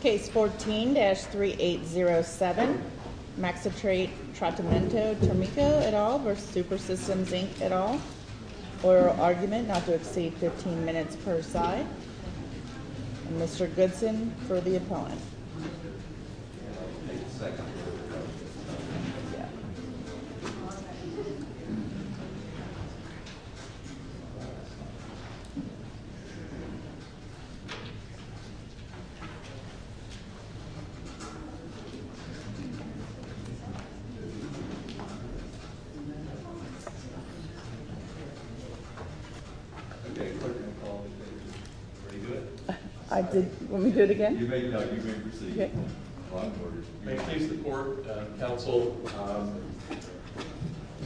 Case 14-3807, Maxitrate, Trattamento, Tomiko, et al, versus Super Systems Inc, et al. Oral argument not to exceed 15 minutes per side. Mr. Goodson for the opponent. Okay, clerk will call the date. Pretty good. Let me do it again. May it please the court, counsel,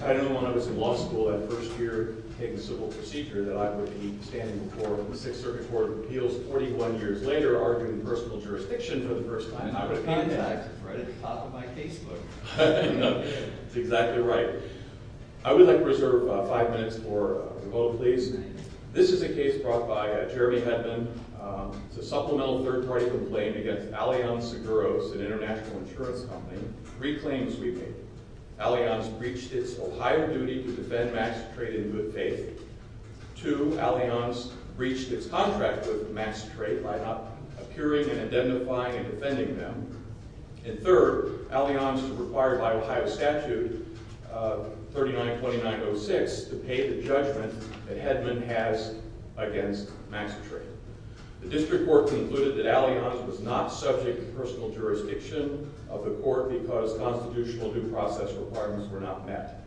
I know when I was in law school that first year taking civil procedure that I would be standing before the Sixth Circuit Court of Appeals 41 years later arguing personal jurisdiction for the first time. That's exactly right. I would like to reserve five minutes for a vote, please. This is a case brought by Jeremy Hedman. It's a supplemental third-party complaint against Allianz Seguros, an international insurance company. Three claims we make. Allianz breached its Ohio duty to defend Maxitrate in good faith. Two, Allianz breached its contract with Maxitrate by not appearing and identifying and defending them. And third, Allianz is required by Ohio statute 392906 to pay the judgment that Hedman has against Maxitrate. The district court concluded that Allianz was not subject to personal jurisdiction of the court because constitutional due process requirements were not met.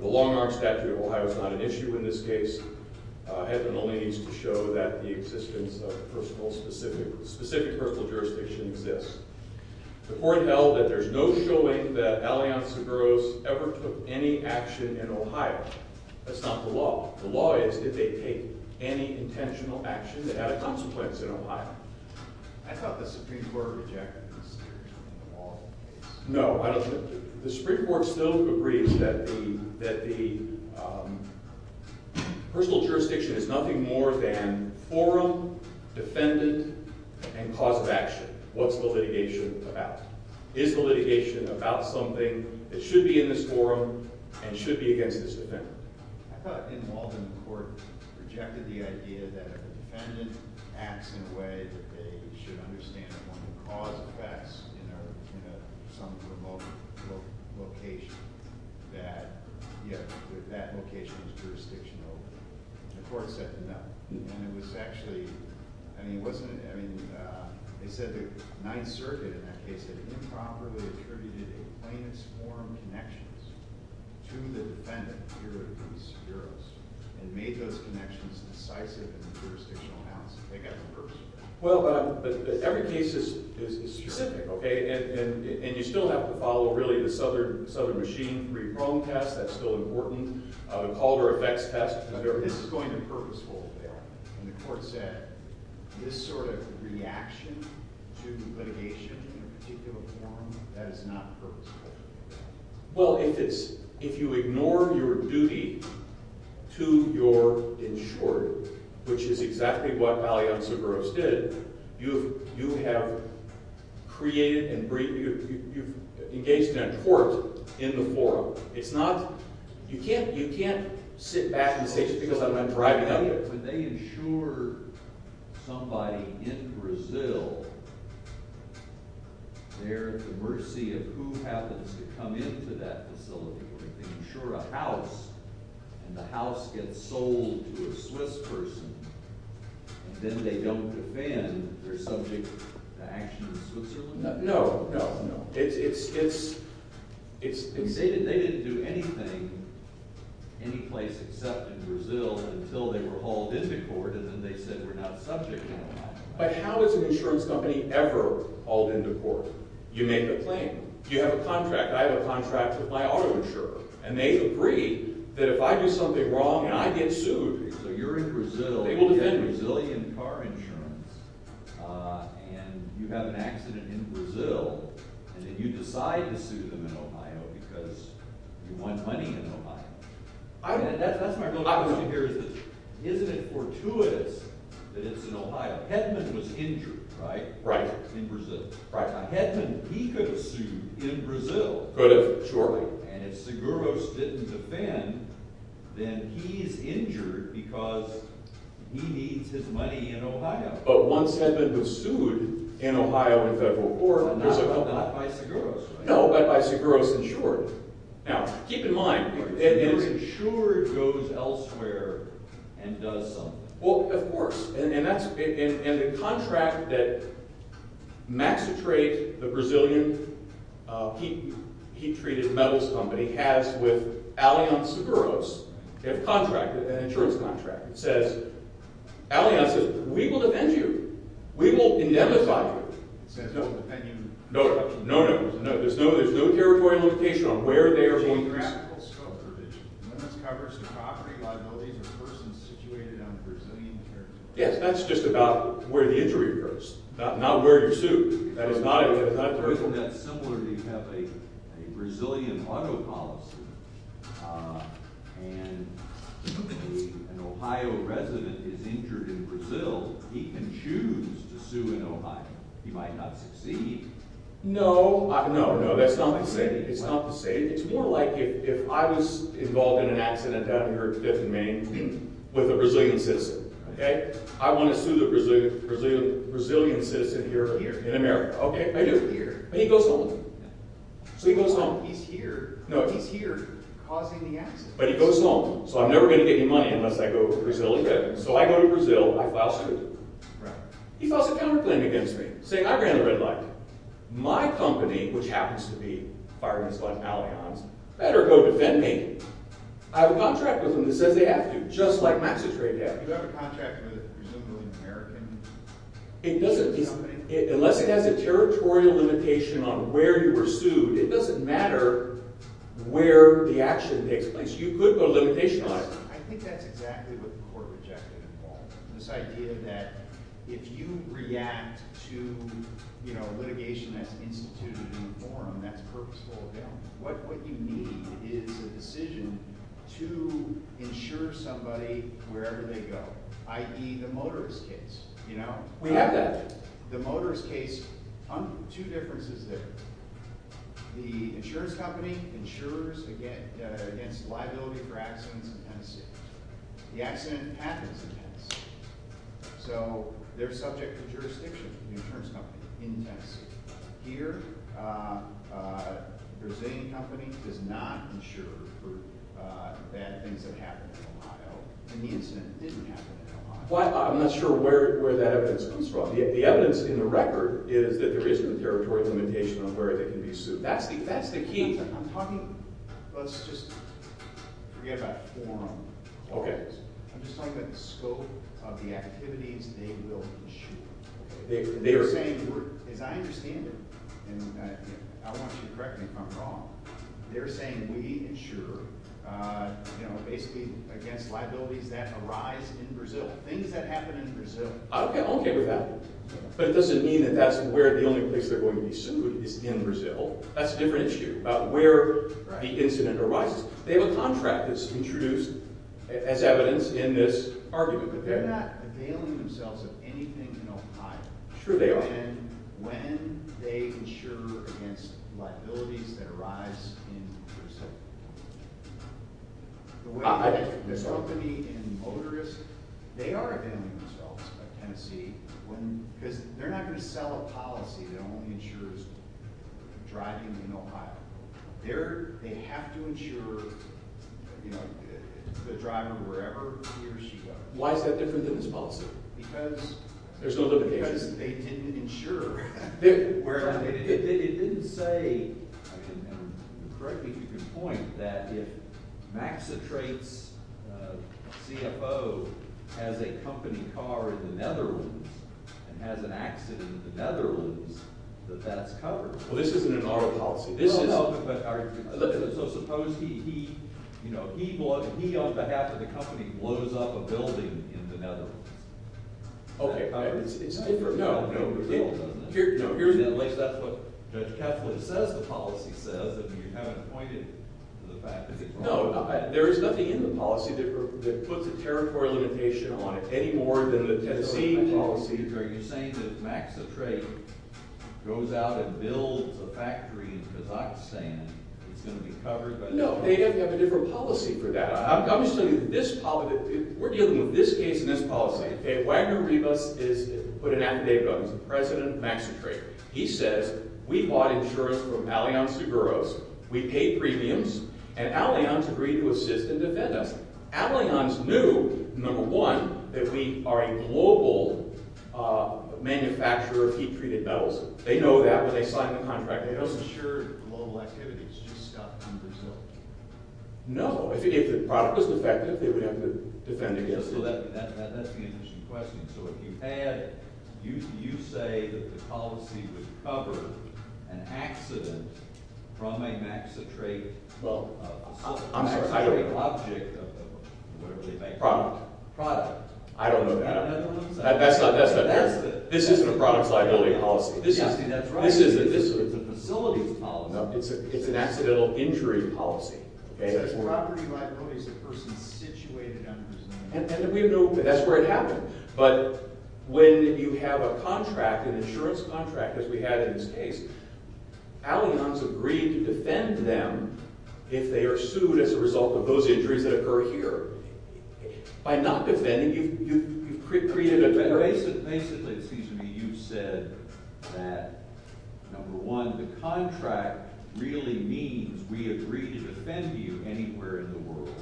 The long-arm statute of Ohio is not an issue in this case. Hedman only needs to show that the existence of Allianz Seguros ever took any action in Ohio. That's not the law. The law is that they take any intentional action that had a consequence in Ohio. I thought the Supreme Court rejected this. No, the Supreme Court still agrees that the personal jurisdiction is nothing more than forum, defendant, and cause of action. What's the litigation about? Is the litigation about something that should be in this forum and should be against this defendant? I thought involved in the court rejected the idea that if a defendant acts in a way that they should understand the cause of facts in some remote location, that that location is jurisdictional. The court said no. They said the Ninth Circuit in that case had improperly attributed a plaintiff's forum connections to the defendant, Seguros, and made those connections decisive in the jurisdictional analysis. They've got to be purposeful. Every case is specific, and you still have to follow the Southern Machine, three-prong test, that's still important, the Calder effects test. This is going to be purposeful there. And the court said this sort of reaction to litigation in a particular forum, that is not purposeful. Well, if you ignore your duty to your insurer, which is exactly what Valley-Anz Seguros did, you have engaged in a court in the forum. You can't sit back and say, just because I'm driving up here. When they insure somebody in Brazil, they're at the mercy of who happens to come into that facility. When they insure a house, and the house gets sold to a Swiss person, and then they don't defend, they're subject to action in Switzerland? No, no. It's stated they didn't do anything, any place except in Brazil, until they were hauled into court, and then they said we're not subject. But how does an insurance company ever hauled into court? You make a claim. You have a contract. I have a contract with my auto insurer. And they agree that if I do something wrong, and I get sued, so you're in Brazil, you have Brazilian car insurance, and you have an accident in Brazil, and then you decide to sue them in Ohio because you want money in Ohio. That's my real question here is this. Isn't it fortuitous that it's in Ohio? Hedman was injured, right, in Brazil. Now, Hedman, he could have sued in Brazil. Could have, sure. And if Seguros didn't defend, then he's injured because he needs his money in Ohio. But once Hedman was sued in Ohio in federal court, there's a company. Not by Seguros. No, but by Seguros Insurance. Now, keep in mind. If your insurer goes elsewhere and does something. Well, of course. And the contract that Maxitrate, the Brazilian heat-treated metals company, has with Allianz Seguros, they have a contract, an insurance contract. It says, Allianz says, we will defend you. We will indemnify you. No, no, no. There's no territory limitation on where they are going. When it covers the property liabilities of persons situated on Brazilian territory. Yes, that's just about where the injury occurs. Not where you're sued. That is not a territory limitation. Isn't that similar to you have a Brazilian auto policy, and an Ohio resident is injured in Brazil. He can choose to sue in Ohio. He might not succeed. No, no, no. That's not the same. It's not the same. It's more like if I was involved in an accident down here at Fifth and Main with a Brazilian citizen. Okay? I want to sue the Brazilian citizen here in America. Okay? I do. And he goes home. So he goes home. He's here. No. He's here causing the accident. But he goes home. So I'm never going to get any money unless I go to Brazil again. So I go to Brazil. I file suit. Right. He files a counterclaim against me, saying I ran the red light. My company, which happens to be Fireman's Lodge Malayans, better go defend me. I have a contract with them that says they have to, just like Maxi Trade did. You have a contract with a Brazilian-American company? Unless it has a territorial limitation on where you were sued, it doesn't matter where the action takes place. You could put a limitation on it. I think that's exactly what the court rejected at all. This idea that if you react to litigation that's instituted in a forum that's purposeful, what you need is a decision to insure somebody wherever they go, i.e. the motorist case. We have that. The motorist case, two differences there. The insurance company insures against liability for accidents in Tennessee. The accident happens in Tennessee. So they're subject to jurisdiction, the insurance company, in Tennessee. Here, a Brazilian company does not insure for bad things that happen in Ohio, and the incident didn't happen in Ohio. I'm not sure where that evidence comes from. The evidence in the record is that there isn't a territorial limitation on where they can be sued. That's the key. Let's just forget about forum. I'm just talking about the scope of the activities they will insure. They're saying, as I understand it, and I want you to correct me if I'm wrong, they're saying we insure basically against liabilities that arise in Brazil, things that happen in Brazil. I'm okay with that. But it doesn't mean that that's where the only place they're going to be sued is in Brazil. That's a different issue, about where the incident arises. They have a contract that's introduced as evidence in this argument. But they're not availing themselves of anything in Ohio. Sure they are. When they insure against liabilities that arise in Brazil. The company and motorist, they are availing themselves of Tennessee. They're not going to sell a policy that only insures driving in Ohio. They have to insure the driver wherever he or she goes. Why is that different than this policy? Because they didn't insure. It didn't say, and correct me if I'm wrong, that if Maxitrate's CFO has a company car in the Netherlands, and has an accident in the Netherlands, that that's covered. This isn't an auto policy. So suppose he, on behalf of the company, blows up a building in the Netherlands. Okay. It's different. No, no. Here in the Netherlands, that's what Judge Keflin says the policy says. You haven't pointed to the fact that it's wrong. No, there is nothing in the policy that puts a territory limitation on it. Any more than the Tennessee policy. Are you saying that Maxitrate goes out and builds a factory in Kazakhstan, and it's going to be covered by the government? No, they have a different policy for that. I'm just telling you that we're dealing with this case and this policy. Wagner Rivas put an affidavit out. He's the president of Maxitrate. He says, we bought insurance from Allianz de Burros. We paid premiums, and Allianz agreed to assist and defend us. Allianz knew, number one, that we are a global manufacturer of heat-treated metals. They know that when they signed the contract. They don't insure global activities, just stuff in Brazil. No, if the product was defective, they would have to defend against it. So that's the initial question. So if you had – you say that the policy would cover an accident from a Maxitrate facility. I'm sorry, I don't know. Maxitrate object of whatever they may call it. Product. Product. I don't know that. That's not fair. This isn't a product's liability policy. Yeah, see, that's right. This is the facility's policy. It's an accidental injury policy. Property liability is the person situated under the facility. And we know that's where it happened. But when you have a contract, an insurance contract as we had in this case, Allianz agreed to defend them if they are sued as a result of those injuries that occur here. By not defending, you've created a barrier. Basically, it seems to me you've said that, number one, the contract really means we agree to defend you anywhere in the world.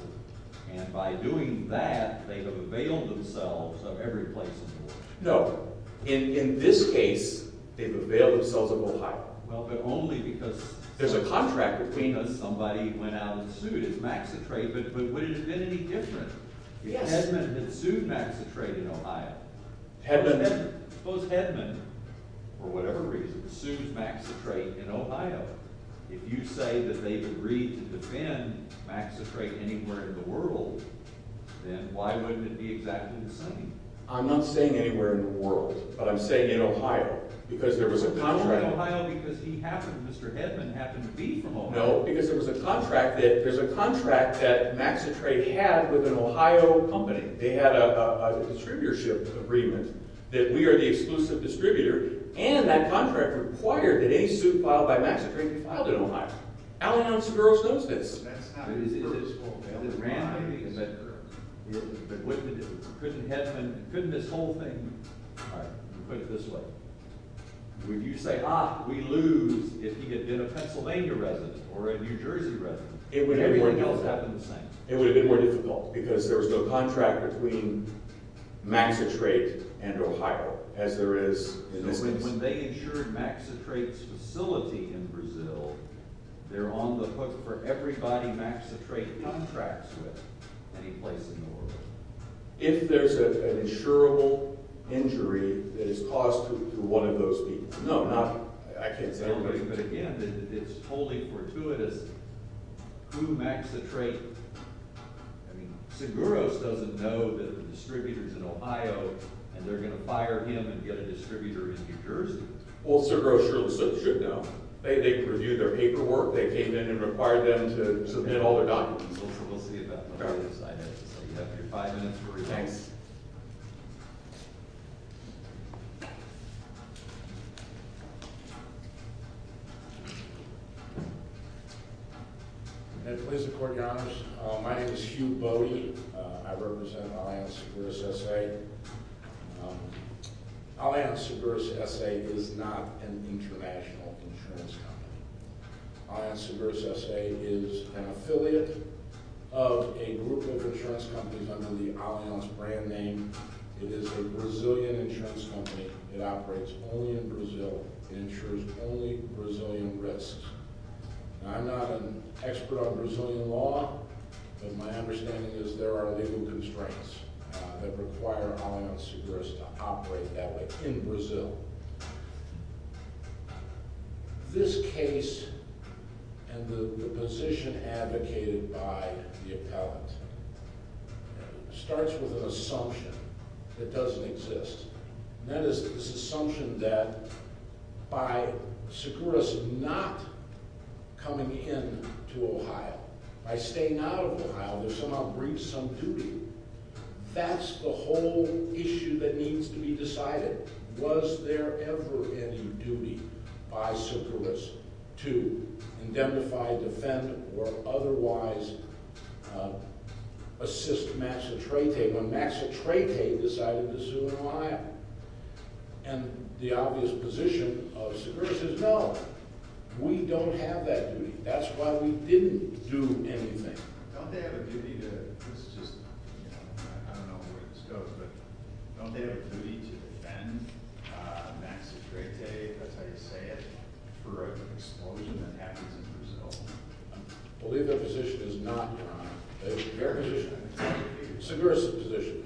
And by doing that, they have availed themselves of every place in the world. No. In this case, they've availed themselves of Ohio. Well, but only because there's a contract between us. Somebody went out and sued as Maxitrate, but would it have been any different? Yes. Suppose Hedman had sued Maxitrate in Ohio. Suppose Hedman, for whatever reason, sued Maxitrate in Ohio. If you say that they agreed to defend Maxitrate anywhere in the world, then why wouldn't it be exactly the same? I'm not saying anywhere in the world, but I'm saying in Ohio because there was a contract. Not only in Ohio because he happened, Mr. Hedman, happened to be from Ohio. No, because there was a contract that Maxitrate had with an Ohio company. They had a distributorship agreement that we are the exclusive distributor. And that contract required that any suit filed by Maxitrate be filed in Ohio. Alley-ounce girl knows this. That's how it is. It is. It is. It is. It is. But what did Hedman do? Couldn't this whole thing? All right. Put it this way. If you say, ah, we lose if he had been a Pennsylvania resident or a New Jersey resident, everything else would have been the same. It would have been more difficult because there was no contract between Maxitrate and Ohio as there is in this case. When they insured Maxitrate's facility in Brazil, they're on the hook for everybody Maxitrate contracts with any place in the world. If there's an insurable injury that is caused to one of those people. No, not – I can't say everybody. But again, it's totally fortuitous. Who Maxitrate – I mean, Seguros doesn't know that the distributor's in Ohio and they're going to fire him and get a distributor in New Jersey. Well, Seguros should know. They reviewed their paperwork. They came in and required them to submit all their documents. We'll see about that. I have to say, you have your five minutes for review. Thanks. May it please the Court, Your Honors. My name is Hugh Bode. I represent Alliant Seguros S.A. Alliant Seguros S.A. is not an international insurance company. Alliant Seguros S.A. is an affiliate of a group of insurance companies under the Alliant's brand name. It is a Brazilian insurance company. It operates only in Brazil. It insures only Brazilian risks. I'm not an expert on Brazilian law, but my understanding is there are legal constraints that require Alliant Seguros to operate that way in Brazil. This case and the position advocated by the appellant starts with an assumption that doesn't exist. And that is this assumption that by Seguros not coming into Ohio, by staying out of Ohio, they've somehow breached some duty. That's the whole issue that needs to be decided. Was there ever any duty by Seguros to indemnify, defend, or otherwise assist Max Atreide when Max Atreide decided to sue Alliant? And the obvious position of Seguros is no, we don't have that duty. That's why we didn't do anything. Don't they have a duty to, I don't know where this goes, but don't they have a duty to defend Max Atreide, if that's how you say it, for an explosion that happens in Brazil? I believe their position is not, Your Honor. Their position, Seguros' position,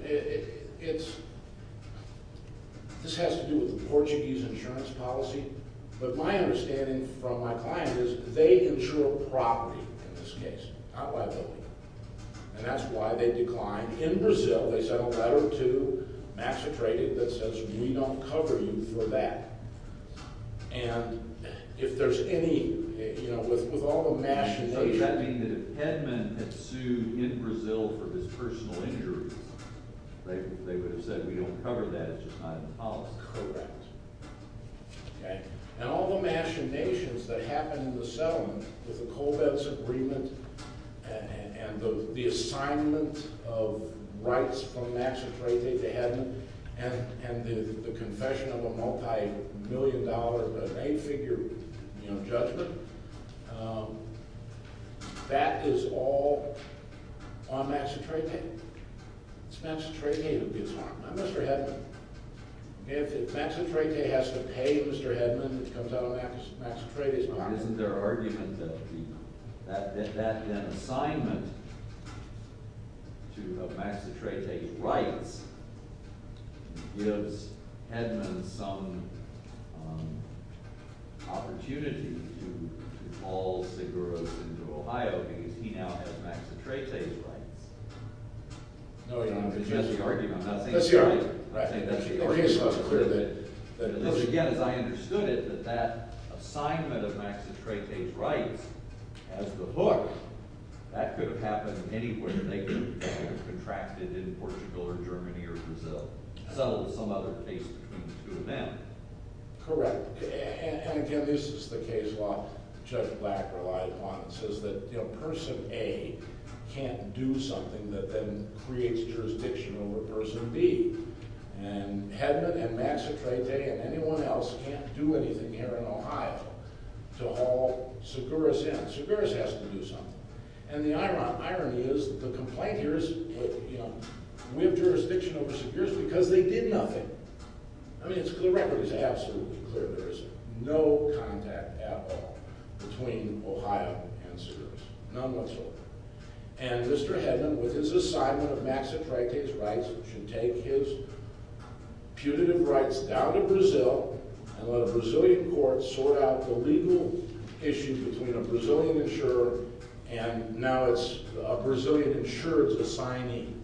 this has to do with the Portuguese insurance policy. But my understanding from my client is they insure property in this case, not liability. And that's why they declined. In Brazil, they sent a letter to Max Atreide that says we don't cover you for that. And if there's any, you know, with all the mash-ups that we've had. So does that mean that if Hedman had sued in Brazil for his personal injuries, they would have said we don't cover that, it's just not in the policy? Correct. Okay. And all the machinations that happen in the settlement with the Colbett's agreement and the assignment of rights from Max Atreide to Hedman and the confession of a multi-million dollar, eight-figure judgment, that is all on Max Atreide? It's Max Atreide who gets harmed, not Mr. Hedman. If Max Atreide has to pay Mr. Hedman, it comes out on Max Atreide's behalf. Isn't there an argument that an assignment of Max Atreide's rights gives Hedman some opportunity to call Seguros into Ohio because he now has Max Atreide's rights? That's the argument. I think that's the argument. But again, as I understood it, that that assignment of Max Atreide's rights as the hook, that could have happened anywhere. They could have contracted in Portugal or Germany or Brazil, settled some other case between the two of them. Correct. And again, this is the case law Judge Black relied upon. It says that Person A can't do something that then creates jurisdiction over Person B. And Hedman and Max Atreide and anyone else can't do anything here in Ohio to haul Seguros in. Seguros has to do something. And the irony is the complaint here is, you know, we have jurisdiction over Seguros because they did nothing. I mean, the record is absolutely clear. There is no contact at all between Ohio and Seguros. None whatsoever. And Mr. Hedman, with his assignment of Max Atreide's rights, should take his putative rights down to Brazil and let a Brazilian court sort out the legal issues between a Brazilian insurer and now it's a Brazilian insurance assignee.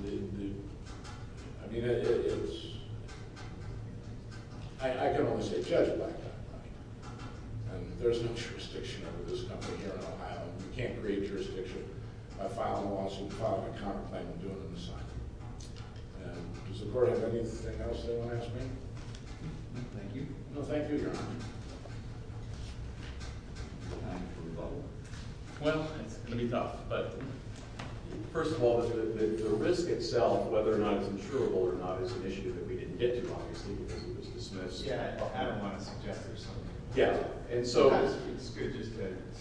I mean, it's – I can only say Judge Black. And there's no jurisdiction over this company here in Ohio. You can't create jurisdiction by filing a lawsuit, filing a counterclaim, and doing an assignment. Does the court have anything else they want to ask me? Thank you. No, thank you, Your Honor. Well, it's going to be tough. But first of all, the risk itself, whether or not it's insurable or not, is an issue that we didn't get to, obviously, because it was dismissed. Yeah, I don't want to suggest there's something. Yeah. And so – It's good just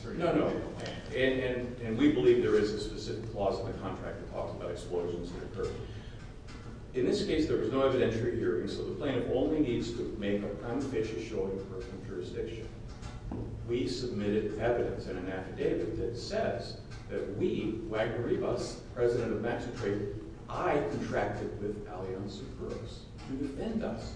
to – No, no. And we believe there is a specific clause in the contract that talks about explosions that occur. In this case, there was no evidentiary hearing, so the plaintiff only needs to make an unfaithful showing of jurisdiction. We submitted evidence in an affidavit that says that we, Wagner-Rivas, president of Maxitrade, I contracted with Allianz and Brooks to defend us.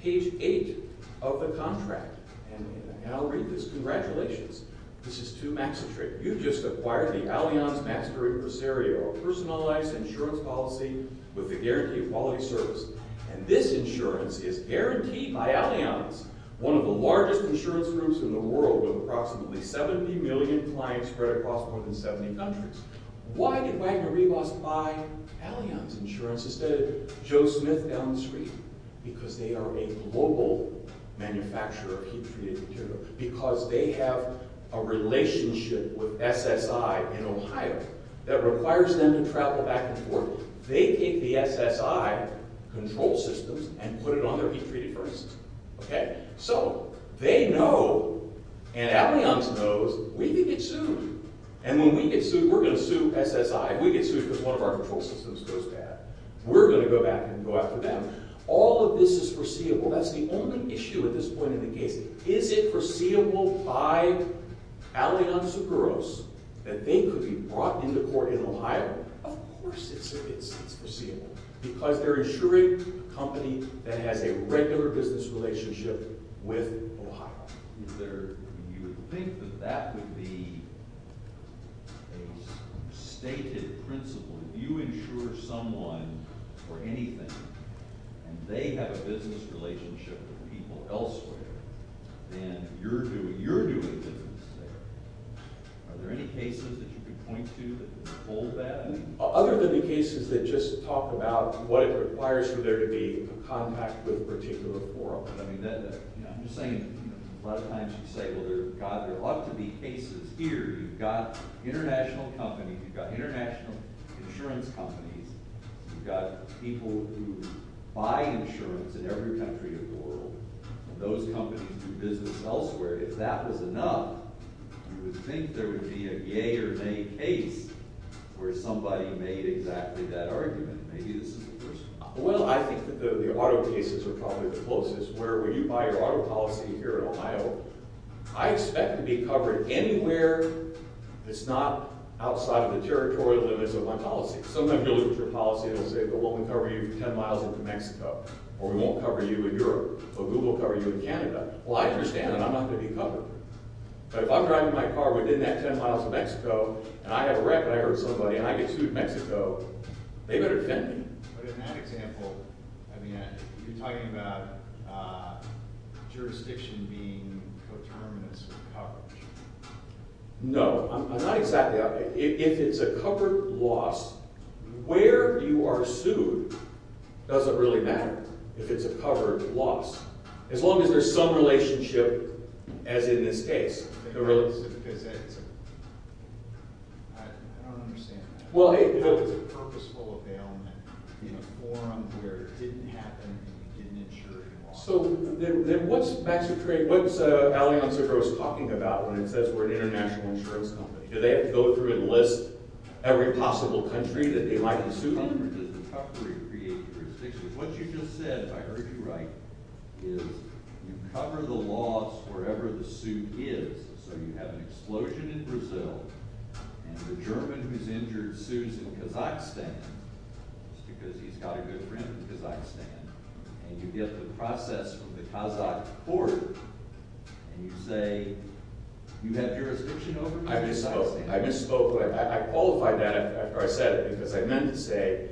Page 8 of the contract – and I'll read this. Congratulations. This is to Maxitrade. You just acquired the Allianz Maxitrade Presario, a personalized insurance policy with a guaranteed quality service. And this insurance is guaranteed by Allianz, one of the largest insurance groups in the world with approximately 70 million clients spread across more than 70 countries. Why did Wagner-Rivas buy Allianz Insurance instead of Joe Smith down the street? Because they are a global manufacturer of heat-treated materials. Because they have a relationship with SSI in Ohio that requires them to travel back and forth. They take the SSI control systems and put it on their heat-treated furnaces. Okay? So they know, and Allianz knows, we can get sued. And when we get sued, we're going to sue SSI. If we get sued because one of our control systems goes bad, we're going to go back and go after them. All of this is foreseeable. That's the only issue at this point in the case. Is it foreseeable by Allianz Seguros that they could be brought into court in Ohio? Of course it's foreseeable. Because they're insuring a company that has a regular business relationship with Ohio. You would think that that would be a stated principle. If you insure someone for anything and they have a business relationship with people elsewhere, then you're doing business there. Are there any cases that you could point to that hold that? Other than the cases that just talk about what it requires for there to be a contact with a particular forum. I'm just saying a lot of times you say, well, God, there ought to be cases here. You've got international companies. You've got international insurance companies. You've got people who buy insurance in every country in the world. And those companies do business elsewhere. If that was enough, you would think there would be a yea or nay case where somebody made exactly that argument. Maybe this is the first one. Well, I think that the auto cases are probably the closest. Where when you buy your auto policy here in Ohio, I expect to be covered anywhere that's not outside of the territorial limits of my policy. Sometimes you look at your policy and say, well, we'll cover you 10 miles into Mexico. Or we won't cover you in Europe. Or Google will cover you in Canada. Well, I understand that. I'm not going to be covered. But if I'm driving my car within that 10 miles of Mexico and I have a wreck and I hurt somebody and I get sued in Mexico, they better defend me. But in that example, you're talking about jurisdiction being coterminous with coverage. No. I'm not exactly. If it's a covered loss, where you are sued doesn't really matter if it's a covered loss. As long as there's some relationship, as in this case. I don't understand that. It's a purposeful aboundment in a forum where it didn't happen and you didn't insure it at all. So then what's Alionso Gross talking about when it says we're an international insurance company? Do they have to go through and list every possible country that they might be sued in? What you just said, if I heard you right, is you cover the loss wherever the suit is. So you have an explosion in Brazil and the German who's injured sues in Kazakhstan just because he's got a good friend in Kazakhstan. And you get the process from the Kazakh court and you say you have jurisdiction over Kazakhstan. I misspoke. I qualified that after I said it because I meant to say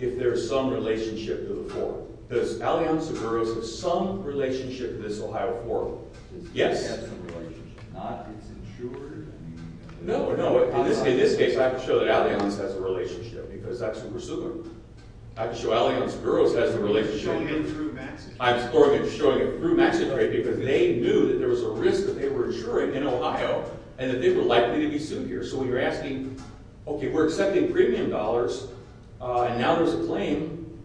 if there's some relationship to the forum. Does Alionso Gross have some relationship to this Ohio forum? Yes. Does he have some relationship? Not if it's insured? No, no. In this case, I have to show that Alionso has a relationship because that's who we're suing. I have to show Alionso Gross has a relationship. You're showing it through Max's trade. I'm showing it through Max's trade because they knew that there was a risk that they were insuring in Ohio and that they were likely to be sued here. So when you're asking, okay, we're accepting premium dollars, and now there's a claim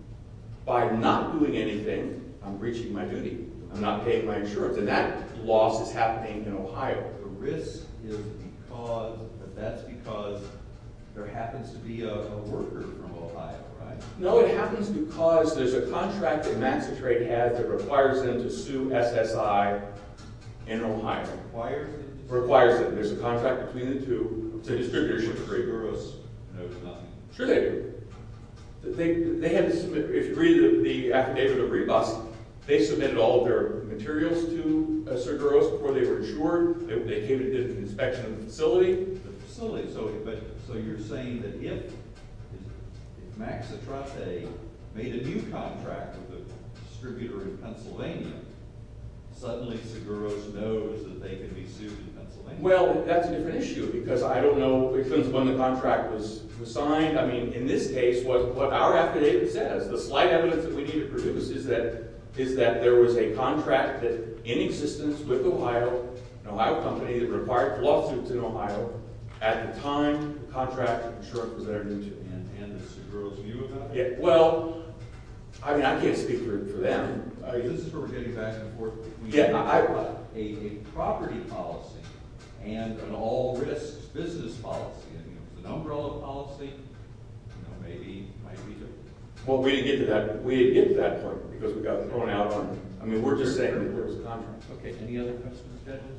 by not doing anything, I'm breaching my duty. I'm not paying my insurance. And that loss is happening in Ohio. The risk is because that's because there happens to be a worker from Ohio, right? No, it happens because there's a contract that Max's trade has that requires them to sue SSI in Ohio. Requires it? Requires it. There's a contract between the two. The distributorship of Seguros knows nothing. Sure they do. They had to submit – if you read the affidavit of rebus, they submitted all of their materials to Seguros before they were insured. They came and did an inspection of the facility. The facility. So you're saying that if Max Atrante made a new contract with a distributor in Pennsylvania, suddenly Seguros knows that they can be sued in Pennsylvania? Well, that's a different issue because I don't know if it was when the contract was signed. I mean, in this case, what our affidavit says, the slight evidence that we need to produce, is that there was a contract in existence with Ohio, an Ohio company, that required lawsuits in Ohio at the time the contract was presented and Seguros knew about it. Well, I mean, I can't speak for them. This is where we're getting back and forth. A property policy and an all-risk business policy. I mean, it was an umbrella policy. You know, maybe it might be different. Well, we didn't get to that point because we got thrown out on it. I mean, we're just saying – Okay, any other questions?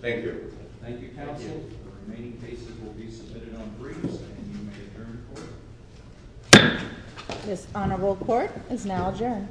Thank you. Thank you, counsel. The remaining cases will be submitted on briefs and you may adjourn the court. This honorable court is now adjourned.